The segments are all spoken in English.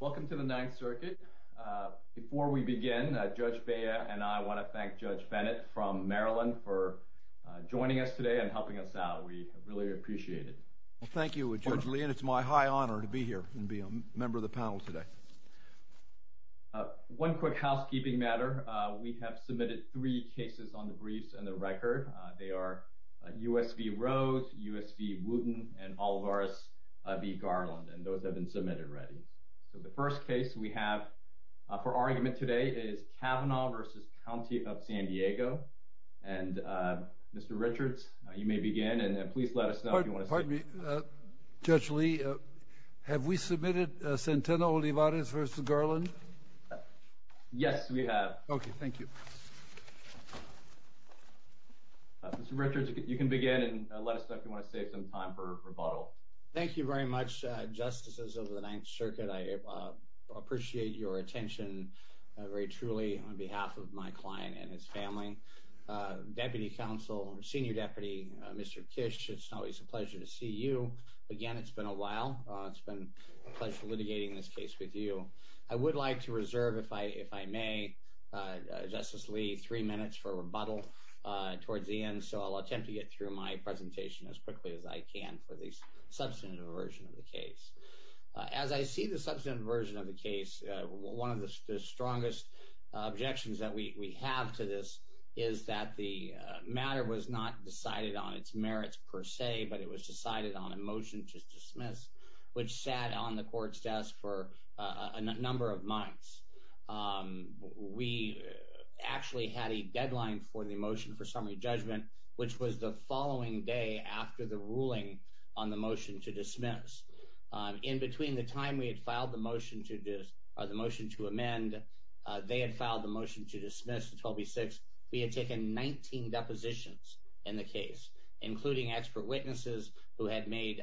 Welcome to the Ninth Circuit. Before we begin, Judge Baya and I want to thank Judge Bennett from Maryland for joining us today and helping us out. We really appreciate it. Thank you, Judge Lee, and it's my high honor to be here and be a member of the panel today. One quick housekeeping matter. We have submitted three cases on the briefs and the record. They are U.S. v. Rose, U.S. v. Wooten, and Olivares v. Garland, and those have been submitted already. So the first case we have for argument today is Cavanaugh v. County of San Diego. And, Mr. Richards, you may begin, and please let us know if you want to speak. Pardon me, Judge Lee. Have we submitted Centeno-Olivares v. Garland? Yes, we have. Okay, thank you. Mr. Richards, you can begin and let us know if you want to save some time for rebuttal. Thank you very much, Justices of the Ninth Circuit. I appreciate your attention very truly on behalf of my client and his family. Deputy Counsel, Senior Deputy, Mr. Kish, it's always a pleasure to see you. Again, it's been a while. It's been a pleasure litigating this case with you. I would like to reserve, if I may, Justice Lee, three minutes for rebuttal towards the end, so I'll attempt to get through my presentation as quickly as I can for the substantive version of the case. As I see the substantive version of the case, one of the strongest objections that we have to this is that the matter was not decided on its merits per se, but it was decided on a motion to dismiss, which sat on the Court's desk for a number of months. We actually had a deadline for the motion for summary judgment, which was the following day after the ruling on the motion to dismiss. In between the time we had filed the motion to amend, they had filed the motion to dismiss, 12B6. We had taken 19 depositions in the case, including expert witnesses who had made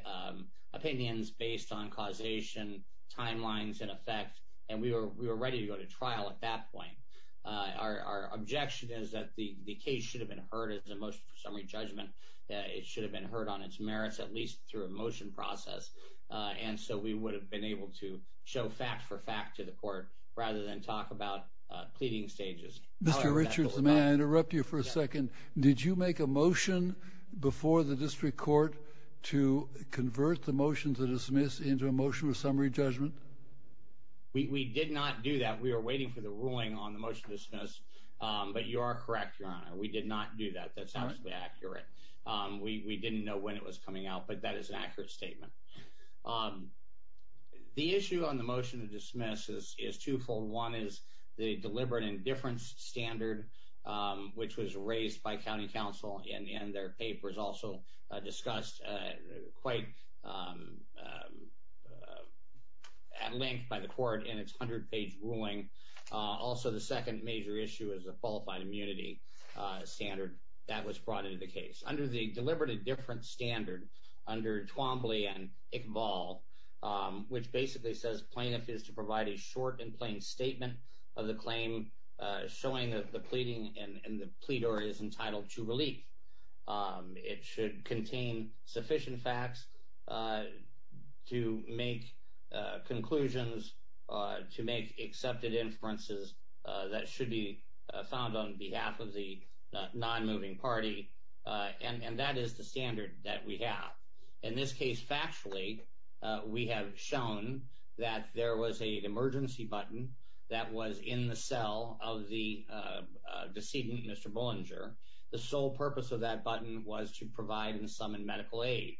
opinions based on causation, timelines, and effect, and we were ready to go to trial at that point. Our objection is that the case should have been heard as a motion for summary judgment. It should have been heard on its merits, at least through a motion process, and so we would have been able to show fact for fact to the Court rather than talk about pleading stages. Mr. Richards, may I interrupt you for a second? Did you make a motion before the District Court to convert the motion to dismiss into a motion of summary judgment? We did not do that. We were waiting for the ruling on the motion to dismiss, but you are correct, Your Honor. We did not do that. That's absolutely accurate. We didn't know when it was coming out, but that is an accurate statement. The issue on the motion to dismiss is twofold. One is the deliberate indifference standard, which was raised by County Council in their papers, also discussed quite at length by the Court in its 100-page ruling. Also, the second major issue is the qualified immunity standard that was brought into the case. Under the deliberate indifference standard, under Twombly and Iqbal, which basically says plaintiff is to provide a short and plain statement of the claim, showing that the pleading and the pleader is entitled to relief. It should contain sufficient facts to make conclusions, to make accepted inferences that should be found on behalf of the non-moving party, and that is the standard that we have. In this case, factually, we have shown that there was an emergency button that was in the cell of the decedent, Mr. Bullinger. The sole purpose of that button was to provide and summon medical aid.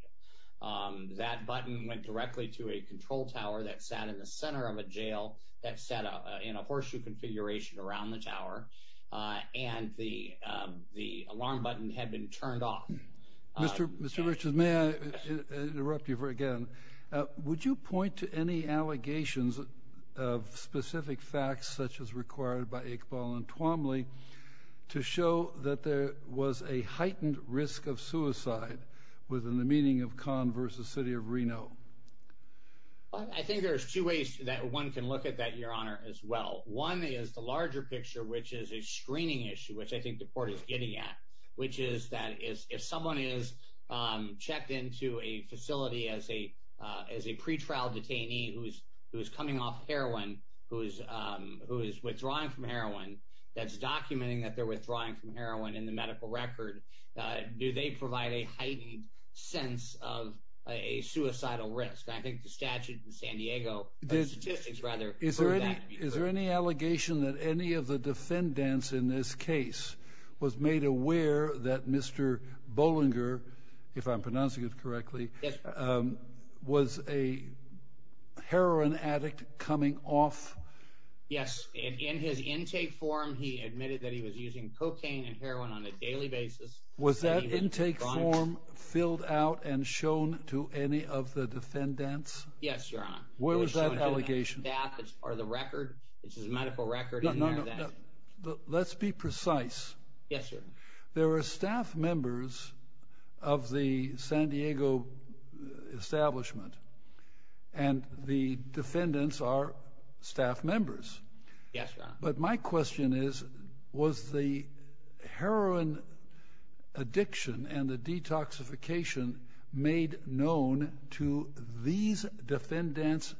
That button went directly to a control tower that sat in the center of a jail that sat in a horseshoe configuration around the tower, and the alarm button had been turned off. Mr. Richards, may I interrupt you again? Would you point to any allegations of specific facts, such as required by Iqbal and Twombly, to show that there was a heightened risk of suicide within the meaning of Kahn v. City of Reno? I think there's two ways that one can look at that, Your Honor, as well. One is the larger picture, which is a screening issue, which I think the Court is getting at, which is that if someone is checked into a facility as a pretrial detainee who is coming off heroin, who is withdrawing from heroin, that's documenting that they're withdrawing from heroin in the medical record, do they provide a heightened sense of a suicidal risk? I think the statute in San Diego, the statistics, rather, prove that. Is there any allegation that any of the defendants in this case was made aware that Mr. Bollinger, if I'm pronouncing it correctly, was a heroin addict coming off? Yes. In his intake form, he admitted that he was using cocaine and heroin on a daily basis. Was that intake form filled out and shown to any of the defendants? Yes, Your Honor. Where was that allegation? Was that part of the record, his medical record? No, no, no. Let's be precise. Yes, sir. There are staff members of the San Diego establishment, and the defendants are staff members. Yes, Your Honor. But my question is, was the heroin addiction and the detoxification made known to these defendants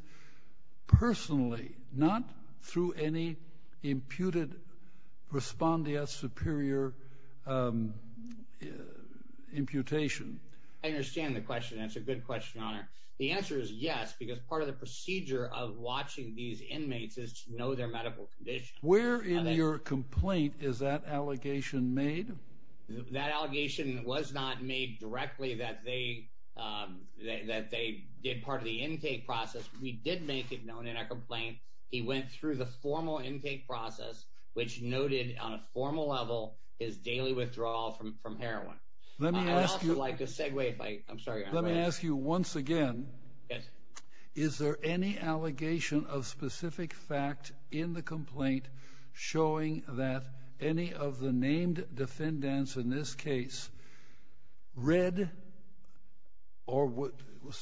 personally, not through any imputed respondeas superior imputation? I understand the question, and it's a good question, Your Honor. The answer is yes, because part of the procedure of watching these inmates is to know their medical condition. Where in your complaint is that allegation made? That allegation was not made directly that they did part of the intake process. We did make it known in our complaint. He went through the formal intake process, which noted on a formal level his daily withdrawal from heroin. Let me ask you— I'd also like to segue, if I—I'm sorry, Your Honor. Let me ask you once again. Yes. Is there any allegation of specific fact in the complaint showing that any of the named defendants, in this case, read or was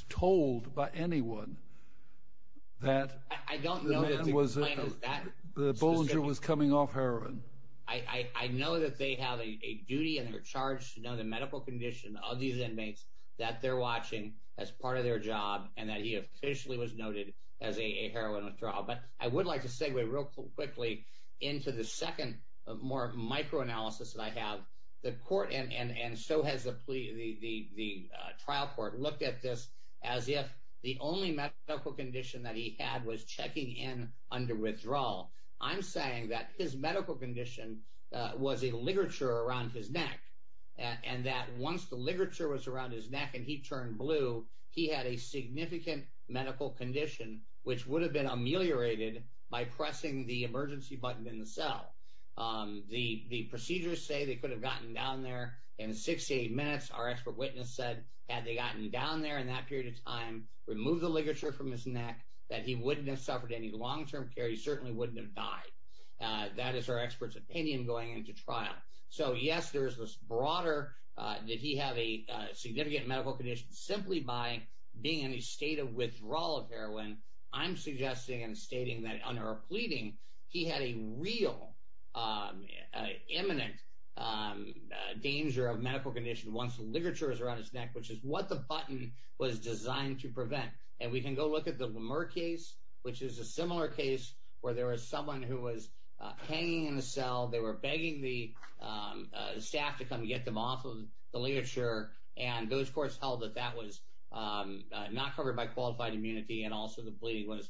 told by anyone that— I don't know that the complaint is that specific. —the Bollinger was coming off heroin. I know that they have a duty and they're charged to know the medical condition of these inmates that they're watching as part of their job and that he officially was noted as a heroin withdrawal. But I would like to segue real quickly into the second more microanalysis that I have. The court, and so has the trial court, looked at this as if the only medical condition that he had was checking in under withdrawal. I'm saying that his medical condition was a ligature around his neck, and that once the ligature was around his neck and he turned blue, he had a significant medical condition which would have been ameliorated by pressing the emergency button in the cell. The procedures say they could have gotten down there in 68 minutes. Our expert witness said, had they gotten down there in that period of time, removed the ligature from his neck, that he wouldn't have suffered any long-term care. He certainly wouldn't have died. That is our expert's opinion going into trial. So yes, there is this broader that he had a significant medical condition. Simply by being in a state of withdrawal of heroin, I'm suggesting and stating that under a pleading, he had a real imminent danger of medical condition once the ligature was around his neck, which is what the button was designed to prevent. And we can go look at the Lemur case, which is a similar case where there was someone who was hanging in a cell. They were begging the staff to come get them off of the ligature, and those courts held that that was not covered by qualified immunity, and also the pleading was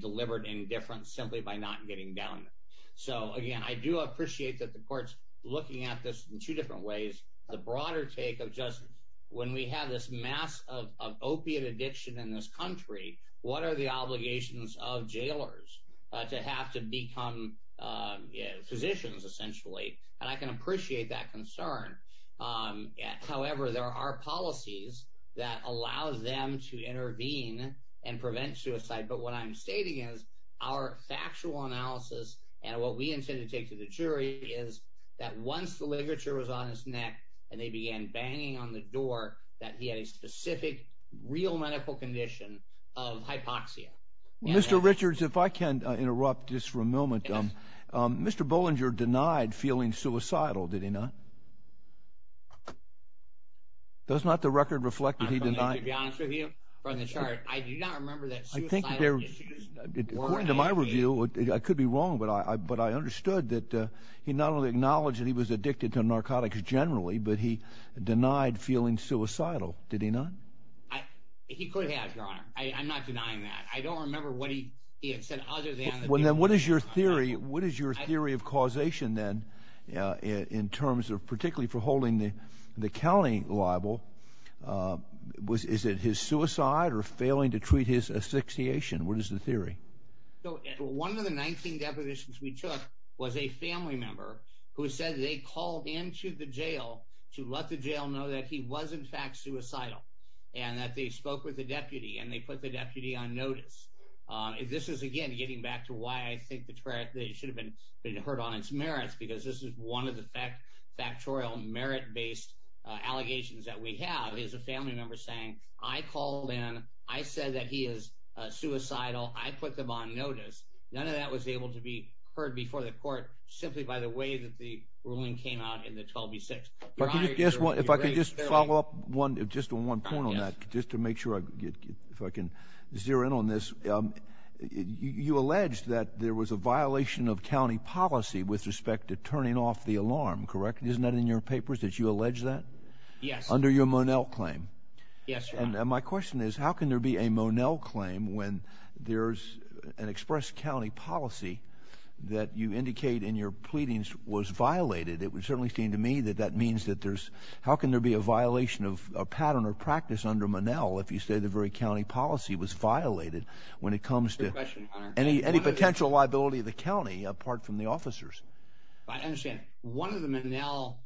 delivered indifferent simply by not getting down there. So again, I do appreciate that the court's looking at this in two different ways. The broader take of just when we have this mass of opiate addiction in this country, what are the obligations of jailers to have to become physicians essentially? And I can appreciate that concern. However, there are policies that allow them to intervene and prevent suicide. But what I'm stating is our factual analysis and what we intend to take to the jury is that once the ligature was on his neck and they began banging on the door, that he had a specific real medical condition of hypoxia. Mr. Richards, if I can interrupt just for a moment. Mr. Bollinger denied feeling suicidal, did he not? Does not the record reflect that he denied? To be honest with you, from the chart, I do not remember that suicidal issues were an issue. According to my review, I could be wrong, but I understood that he not only acknowledged that he was addicted to narcotics generally, but he denied feeling suicidal, did he not? He could have, Your Honor. I'm not denying that. I don't remember what he had said other than that. What is your theory of causation then in terms of particularly for holding the county liable? Is it his suicide or failing to treat his asphyxiation? What is the theory? One of the 19 depositions we took was a family member who said they called into the jail to let the jail know that he was in fact suicidal and that they spoke with the deputy and they put the deputy on notice. This is, again, getting back to why I think it should have been heard on its merits because this is one of the factorial merit-based allegations that we have is a family member saying, I called in. I said that he is suicidal. I put them on notice. None of that was able to be heard before the court simply by the way that the ruling came out in the 12B6. Your Honor, your theory? If I could just follow up just on one point on that just to make sure if I can zero in on this. You allege that there was a violation of county policy with respect to turning off the alarm, correct? Isn't that in your papers that you allege that? Yes. Under your Monell claim? Yes, Your Honor. And my question is how can there be a Monell claim when there's an express county policy that you indicate in your pleadings was violated? It would certainly seem to me that that means that there's how can there be a violation of a pattern or practice under Monell if you say the very county policy was violated when it comes to any potential liability of the county apart from the officers? I understand. One of the Monell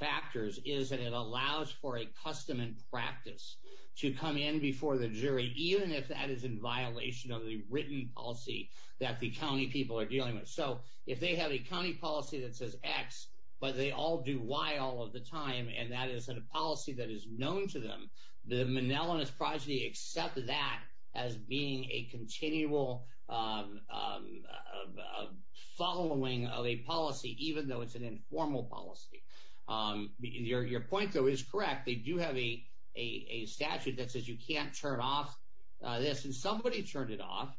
factors is that it allows for a custom and practice to come in before the jury even if that is in violation of the written policy that the county people are dealing with. So if they have a county policy that says X but they all do Y all of the time and that is a policy that is known to them, the Monell and his progeny accept that as being a continual following of a policy even though it's an informal policy. Your point, though, is correct. They do have a statute that says you can't turn off this, and somebody turned it off.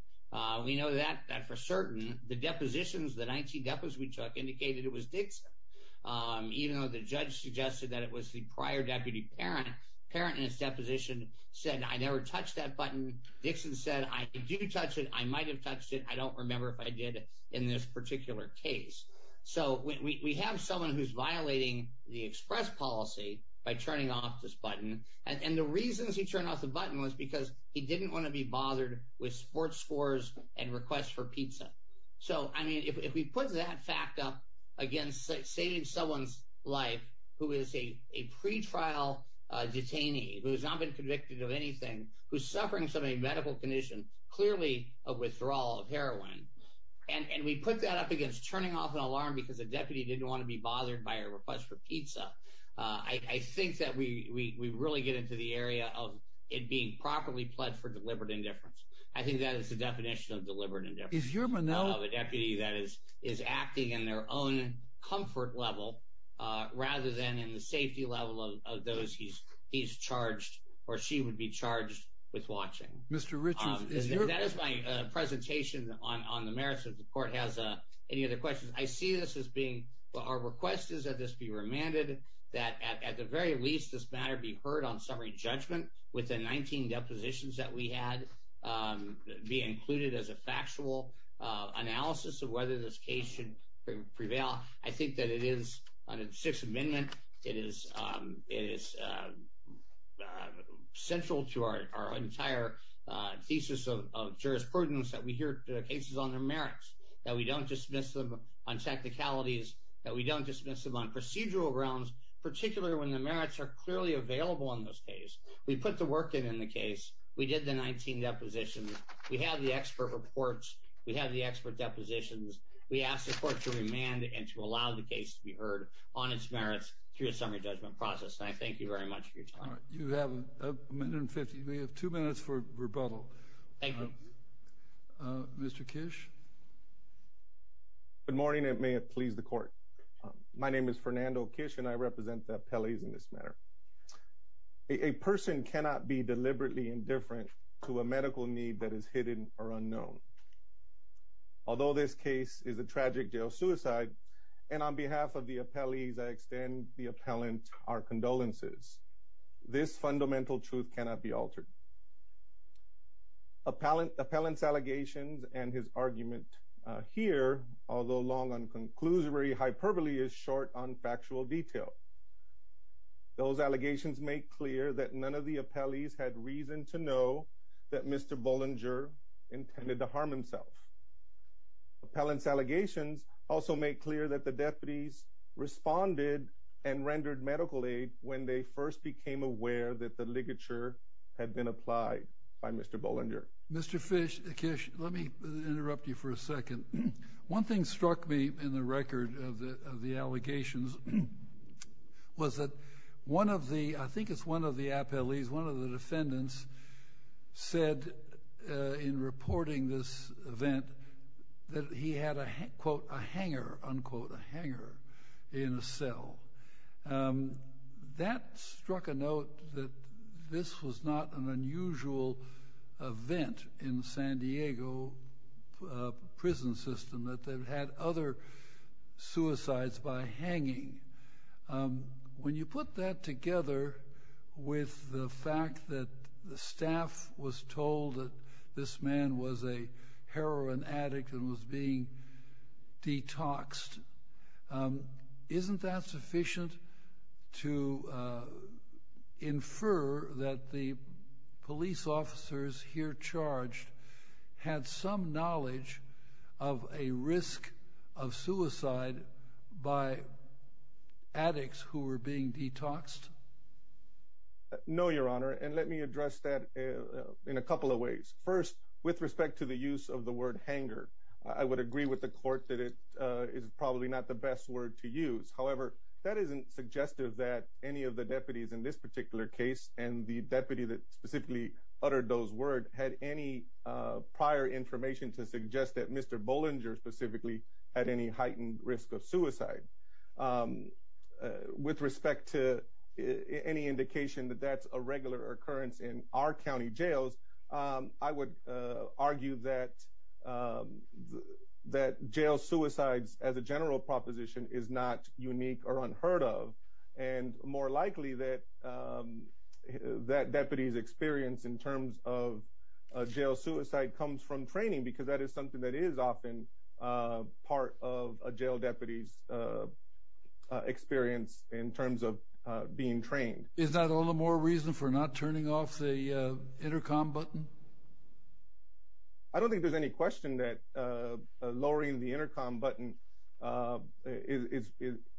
We know that for certain. The depositions, the 19 depos we took, indicated it was Dixon. Even though the judge suggested that it was the prior deputy parent, the parent in his deposition said, I never touched that button. Dixon said, I did touch it. I might have touched it. I don't remember if I did in this particular case. So we have someone who's violating the express policy by turning off this button, and the reasons he turned off the button was because he didn't want to be bothered with sports scores and requests for pizza. So, I mean, if we put that fact up against saving someone's life who is a pretrial detainee who has not been convicted of anything, who's suffering from a medical condition, clearly a withdrawal of heroin, and we put that up against turning off an alarm because a deputy didn't want to be bothered by a request for pizza, I think that we really get into the area of it being properly pled for deliberate indifference. I think that is the definition of deliberate indifference. A deputy that is acting in their own comfort level rather than in the safety level of those he's charged or she would be charged with watching. That is my presentation on the merits of the court. Has any other questions? I see this as being our request is that this be remanded, that at the very least this matter be heard on summary judgment with the 19 depositions that we had be included as a factual analysis of whether this case should prevail. I think that it is on the Sixth Amendment. It is central to our entire thesis of jurisprudence that we hear cases on their merits, that we don't dismiss them on tacticalities, that we don't dismiss them on procedural grounds, particularly when the merits are clearly available in this case. We put the work in in the case. We did the 19 depositions. We have the expert reports. We have the expert depositions. We ask the court to remand and to allow the case to be heard on its merits through a summary judgment process. And I thank you very much for your time. All right. You have a minute and 50. You may have two minutes for rebuttal. Thank you. Mr. Kish? Good morning, and may it please the court. My name is Fernando Kish, and I represent the appellees in this matter. A person cannot be deliberately indifferent to a medical need that is hidden or unknown. Although this case is a tragic jail suicide, and on behalf of the appellees, I extend the appellant our condolences, this fundamental truth cannot be altered. Appellant's allegations and his argument here, although long on conclusory hyperbole, is short on factual detail. Those allegations make clear that none of the appellees had reason to know that Mr. Bollinger intended to harm himself. Appellant's allegations also make clear that the deputies responded and rendered medical aid when they first became aware that the ligature had been applied by Mr. Bollinger. Mr. Kish, let me interrupt you for a second. One thing struck me in the record of the allegations was that one of the, I think it's one of the appellees, one of the defendants said in reporting this event that he had a, quote, a hanger, unquote, a hanger in a cell. That struck a note that this was not an unusual event in the San Diego prison system, that they've had other suicides by hanging. When you put that together with the fact that the staff was told that this man was a heroin addict and was being detoxed, isn't that sufficient to infer that the police officers here charged had some knowledge of a risk of suicide by addicts who were being detoxed? No, Your Honor, and let me address that in a couple of ways. First, with respect to the use of the word hanger, I would agree with the court that it is probably not the best word to use. However, that isn't suggestive that any of the deputies in this particular case and the deputy that specifically uttered those words had any prior information to suggest that Mr. Bollinger specifically had any heightened risk of suicide. With respect to any indication that that's a regular occurrence in our county jails, I would argue that jail suicides as a general proposition is not unique or unheard of. And more likely that that deputy's experience in terms of jail suicide comes from training because that is something that is often part of a jail deputy's experience in terms of being trained. Is that all the more reason for not turning off the intercom button? I don't think there's any question that lowering the intercom button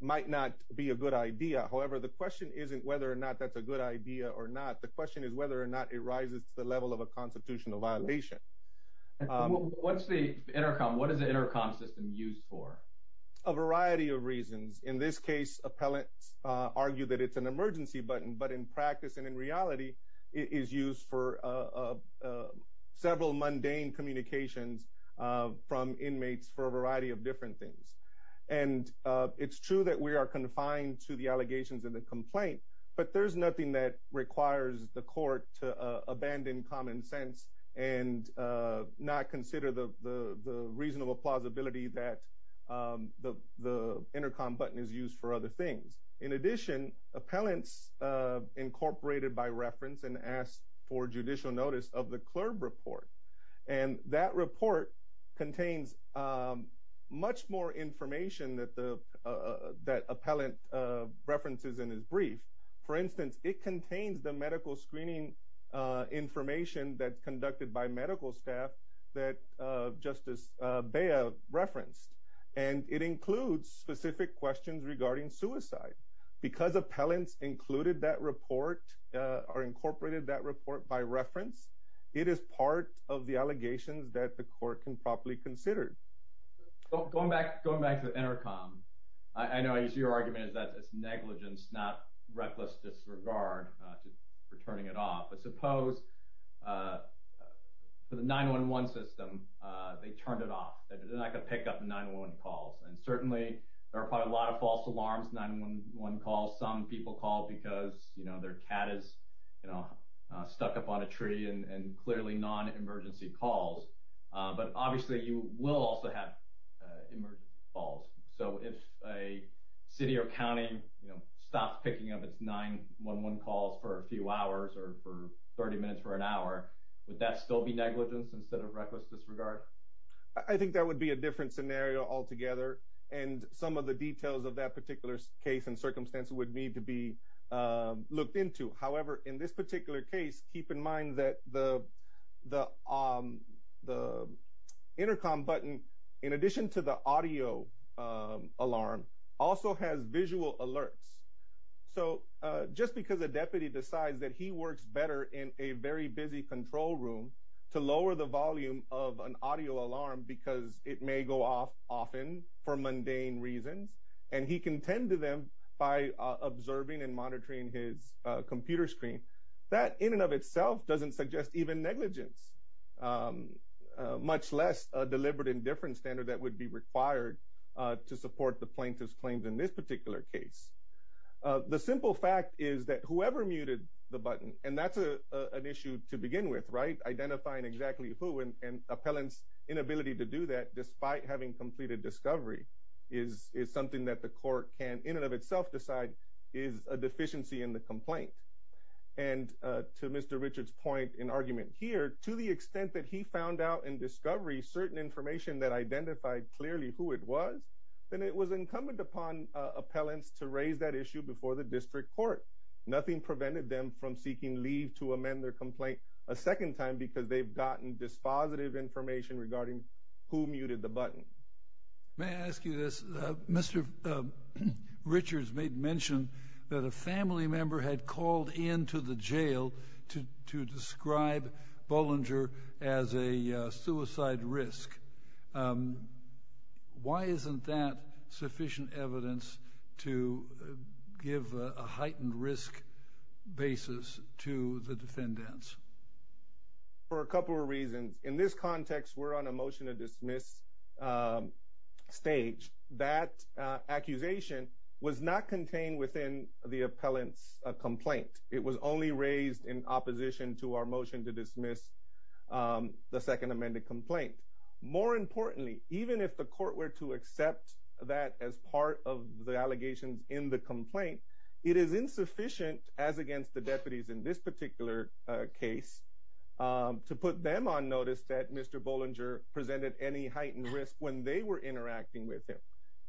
might not be a good idea. However, the question isn't whether or not that's a good idea or not. The question is whether or not it rises to the level of a constitutional violation. What's the intercom? What is the intercom system used for? There are a variety of reasons. In this case, appellants argue that it's an emergency button, but in practice and in reality, it is used for several mundane communications from inmates for a variety of different things. And it's true that we are confined to the allegations of the complaint, but there's nothing that requires the court to abandon common sense and not consider the reasonable plausibility that the intercom button is used for other things. In addition, appellants incorporated by reference and asked for judicial notice of the CLERB report. And that report contains much more information that appellant references in his brief. For instance, it contains the medical screening information that's conducted by medical staff that Justice Bea referenced. And it includes specific questions regarding suicide. Because appellants included that report or incorporated that report by reference, it is part of the allegations that the court can properly consider. Going back to the intercom, I know I used your argument that it's negligence, not reckless disregard for turning it off. But suppose for the 911 system, they turned it off. They're not going to pick up 911 calls. And certainly, there are probably a lot of false alarms, 911 calls. Some people call because their cat is stuck up on a tree and clearly non-emergency calls. But obviously, you will also have emergency calls. So if a city or county stops picking up its 911 calls for a few hours or for 30 minutes or an hour, would that still be negligence instead of reckless disregard? I think that would be a different scenario altogether. And some of the details of that particular case and circumstance would need to be looked into. However, in this particular case, keep in mind that the intercom button, in addition to the audio alarm, also has visual alerts. So just because a deputy decides that he works better in a very busy control room to lower the volume of an audio alarm because it may go off often for mundane reasons. And he can tend to them by observing and monitoring his computer screen. That in and of itself doesn't suggest even negligence, much less a deliberate indifference standard that would be required to support the plaintiff's claims in this particular case. The simple fact is that whoever muted the button, and that's an issue to begin with, right? And appellant's inability to do that despite having completed discovery is something that the court can in and of itself decide is a deficiency in the complaint. And to Mr. Richard's point in argument here, to the extent that he found out in discovery certain information that identified clearly who it was, then it was incumbent upon appellants to raise that issue before the district court. Nothing prevented them from seeking leave to amend their complaint a second time because they've gotten dispositive information regarding who muted the button. May I ask you this? Mr. Richards made mention that a family member had called into the jail to describe Bollinger as a suicide risk. Why isn't that sufficient evidence to give a heightened risk basis to the defendants? For a couple of reasons. In this context, we're on a motion to dismiss stage. That accusation was not contained within the appellant's complaint. It was only raised in opposition to our motion to dismiss the second amended complaint. More importantly, even if the court were to accept that as part of the allegations in the complaint, it is insufficient as against the deputies in this particular case to put them on notice that Mr. Bollinger presented any heightened risk when they were interacting with him.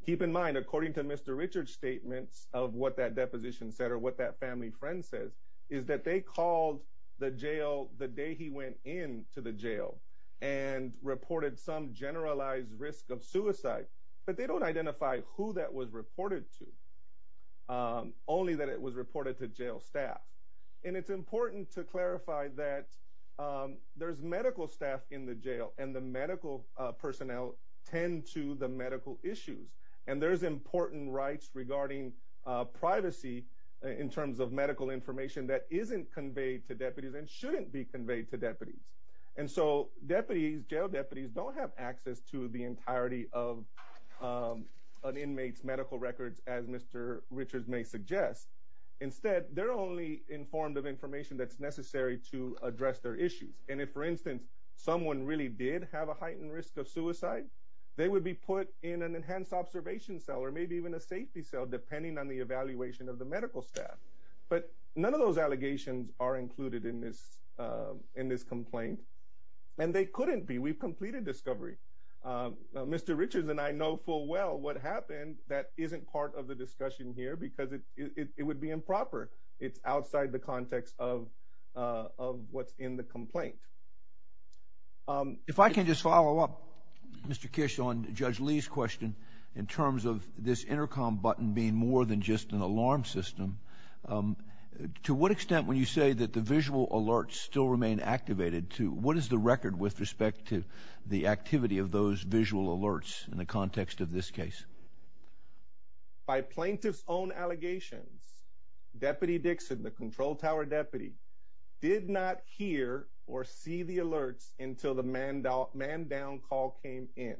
Keep in mind, according to Mr. Richards' statements of what that deposition said or what that family friend says, is that they called the jail the day he went into the jail and reported some generalized risk of suicide, but they don't identify who that was reported to, only that it was reported to jail staff. It's important to clarify that there's medical staff in the jail and the medical personnel tend to the medical issues. There's important rights regarding privacy in terms of medical information that isn't conveyed to deputies and shouldn't be conveyed to deputies. Jail deputies don't have access to the entirety of an inmate's medical records, as Mr. Richards may suggest. Instead, they're only informed of information that's necessary to address their issues. And if, for instance, someone really did have a heightened risk of suicide, they would be put in an enhanced observation cell or maybe even a safety cell, depending on the evaluation of the medical staff. But none of those allegations are included in this complaint, and they couldn't be. We've completed discovery. Mr. Richards and I know full well what happened. That isn't part of the discussion here because it would be improper. It's outside the context of what's in the complaint. If I can just follow up, Mr. Kish, on Judge Lee's question in terms of this intercom button being more than just an alarm system, to what extent, when you say that the visual alerts still remain activated, to what is the record with respect to the activity of those visual alerts in the context of this case? By plaintiff's own allegations, Deputy Dixon, the control tower deputy, did not hear or see the alerts until the man down call came in.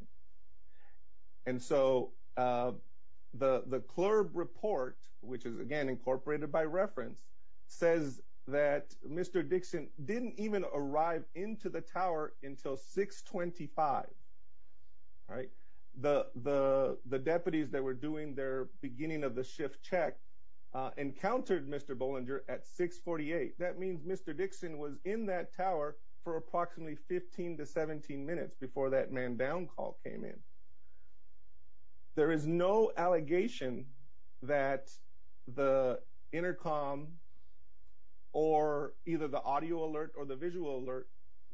And so the CLRB report, which is, again, incorporated by reference, says that Mr. Dixon didn't even arrive into the tower until 625. The deputies that were doing their beginning of the shift check encountered Mr. Bollinger at 648. That means Mr. Dixon was in that tower for approximately 15 to 17 minutes before that man down call came in. There is no allegation that the intercom or either the audio alert or the visual alert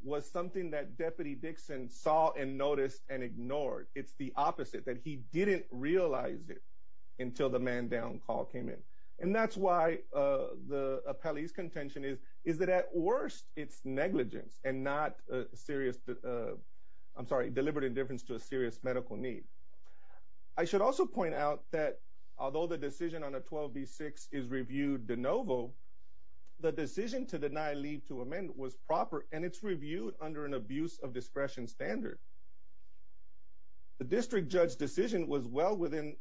was something that Deputy Dixon saw and noticed and ignored. It's the opposite, that he didn't realize it until the man down call came in. And that's why the appellee's contention is that at worst, it's negligence and not a serious, I'm sorry, deliberate indifference to a serious medical need. I should also point out that although the decision on a 12B6 is reviewed de novo, the decision to deny leave to amend was proper, and it's reviewed under an abuse of discretion standard. The district judge's decision was well within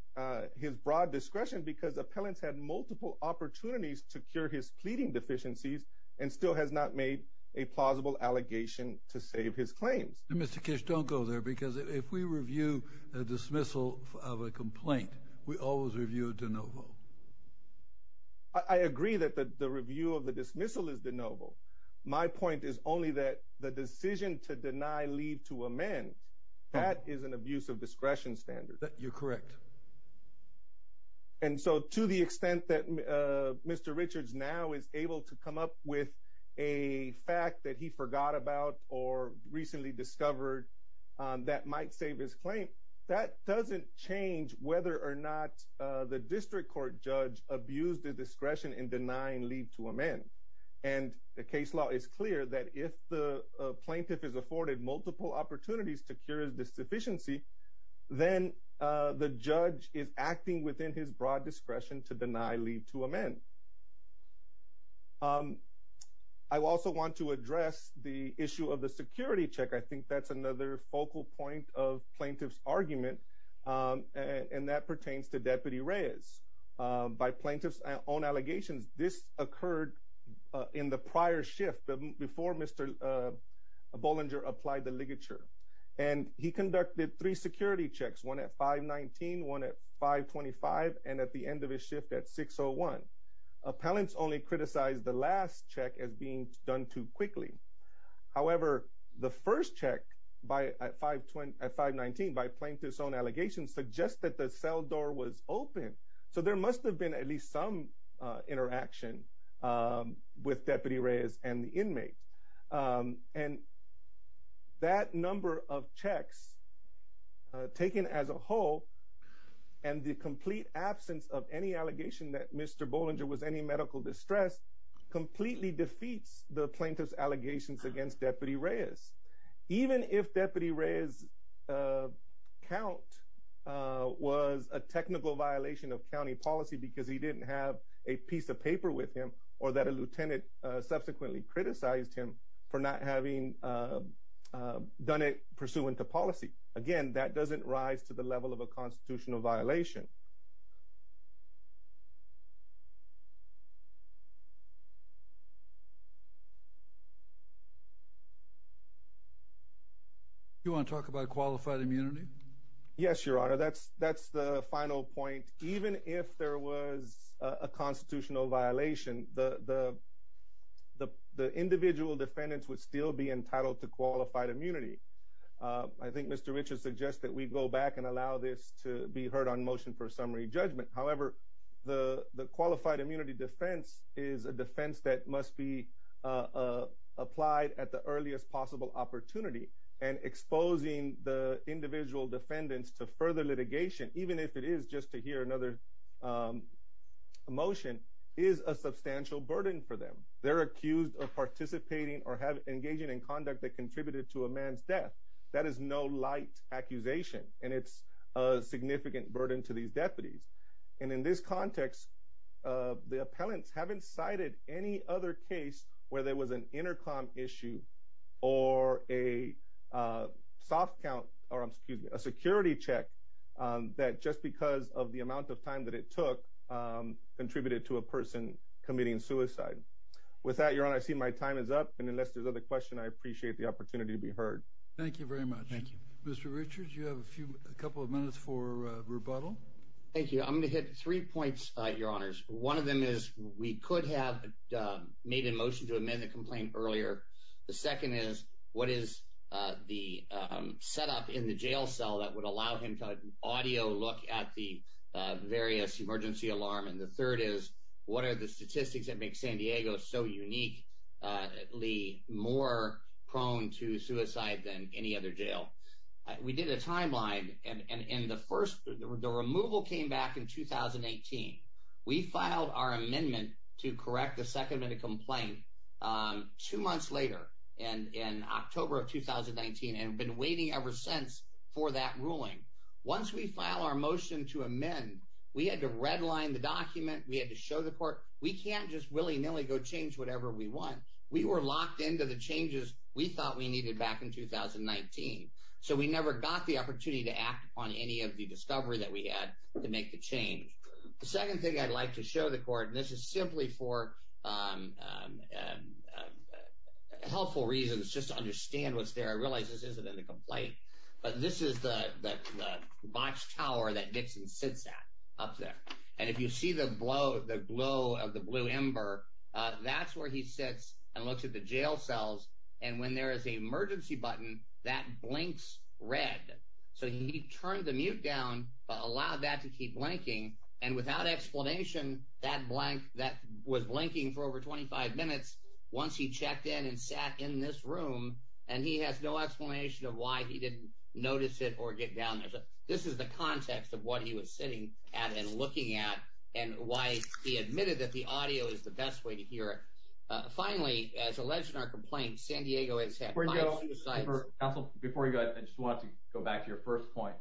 his broad discretion because appellants had multiple opportunities to cure his pleading deficiencies and still has not made a plausible allegation to save his claims. Mr. Kish, don't go there, because if we review a dismissal of a complaint, we always review it de novo. I agree that the review of the dismissal is de novo. My point is only that the decision to deny leave to amend, that is an abuse of discretion standard. You're correct. And so to the extent that Mr. Richards now is able to come up with a fact that he forgot about or recently discovered that might save his claim, that doesn't change whether or not the district court judge abused the discretion in denying leave to amend. And the case law is clear that if the plaintiff is afforded multiple opportunities to cure his deficiency, then the judge is acting within his broad discretion to deny leave to amend. I also want to address the issue of the security check. I think that's another focal point of plaintiff's argument, and that pertains to Deputy Reyes. By plaintiff's own allegations, this occurred in the prior shift before Mr. Bollinger applied the ligature. And he conducted three security checks, one at 519, one at 525, and at the end of his shift at 601. Appellants only criticized the last check as being done too quickly. However, the first check at 519 by plaintiff's own allegations suggests that the cell door was open. So there must have been at least some interaction with Deputy Reyes and the inmate. And that number of checks taken as a whole and the complete absence of any allegation that Mr. Bollinger was in any medical distress completely defeats the plaintiff's allegations against Deputy Reyes. Even if Deputy Reyes' count was a technical violation of county policy because he didn't have a piece of paper with him or that a lieutenant subsequently criticized him for not having done it pursuant to policy. Again, that doesn't rise to the level of a constitutional violation. You want to talk about qualified immunity? Yes, Your Honor. That's the final point. Even if there was a constitutional violation, the individual defendants would still be entitled to qualified immunity. I think Mr. Richards suggests that we go back and allow this to be heard on motion for summary judgment. However, the qualified immunity defense is a defense that must be applied at the earliest possible opportunity. And exposing the individual defendants to further litigation, even if it is just to hear another motion, is a substantial burden for them. They're accused of participating or engaging in conduct that contributed to a man's death. That is no light accusation, and it's a significant burden to these deputies. In this context, the appellants haven't cited any other case where there was an intercom issue or a soft count or a security check that just because of the amount of time that it took contributed to a person committing suicide. With that, Your Honor, I see my time is up. Unless there's other questions, I appreciate the opportunity to be heard. Thank you very much. Mr. Richards, you have a couple of minutes for rebuttal. Thank you. I'm going to hit three points, Your Honors. One of them is we could have made a motion to amend the complaint earlier. The second is, what is the setup in the jail cell that would allow him to audio look at the various emergency alarm? And the third is, what are the statistics that make San Diego so uniquely more prone to suicide than any other jail? We did a timeline, and the removal came back in 2018. We filed our amendment to correct the second minute complaint two months later, in October of 2019, and have been waiting ever since for that ruling. Once we file our motion to amend, we had to redline the document. We had to show the court we can't just willy-nilly go change whatever we want. We were locked into the changes we thought we needed back in 2019, so we never got the opportunity to act on any of the discovery that we had to make the change. The second thing I'd like to show the court, and this is simply for helpful reasons, just to understand what's there. I realize this isn't in the complaint, but this is the botched tower that Nixon sits at up there. And if you see the glow of the blue ember, that's where he sits and looks at the jail cells, and when there is an emergency button, that blinks red. So he turned the mute down, but allowed that to keep blinking, and without explanation, that was blinking for over 25 minutes. Once he checked in and sat in this room, and he has no explanation of why he didn't notice it or get down there. This is the context of what he was sitting at and looking at, and why he admitted that the audio is the best way to hear it. Finally, as alleged in our complaint, San Diego has had five suicides. Counsel, before you go, I just wanted to go back to your first point.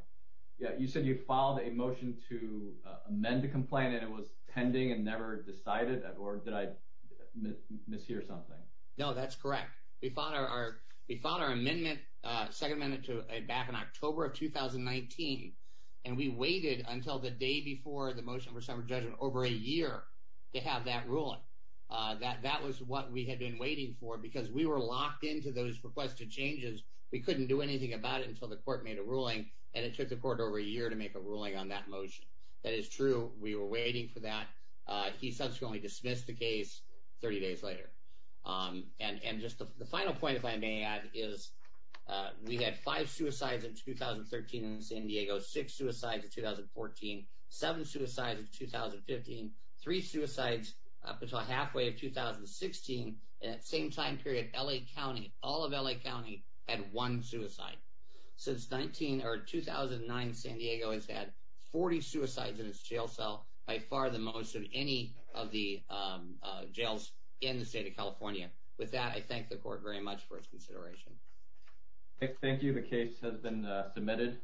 You said you filed a motion to amend the complaint, and it was pending and never decided, or did I mishear something? No, that's correct. We filed our second amendment back in October of 2019, and we waited until the day before the motion for summary judgment over a year to have that ruling. That was what we had been waiting for, because we were locked into those requested changes. We couldn't do anything about it until the court made a ruling, and it took the court over a year to make a ruling on that motion. That is true. We were waiting for that. He subsequently dismissed the case 30 days later. The final point, if I may add, is we had five suicides in 2013 in San Diego, six suicides in 2014, seven suicides in 2015, three suicides up until halfway of 2016, and at the same time period, all of L.A. County had one suicide. Since 2009, San Diego has had 40 suicides in its jail cell, by far the most of any of the jails in the state of California. With that, I thank the court very much for its consideration. Thank you. The case has been submitted.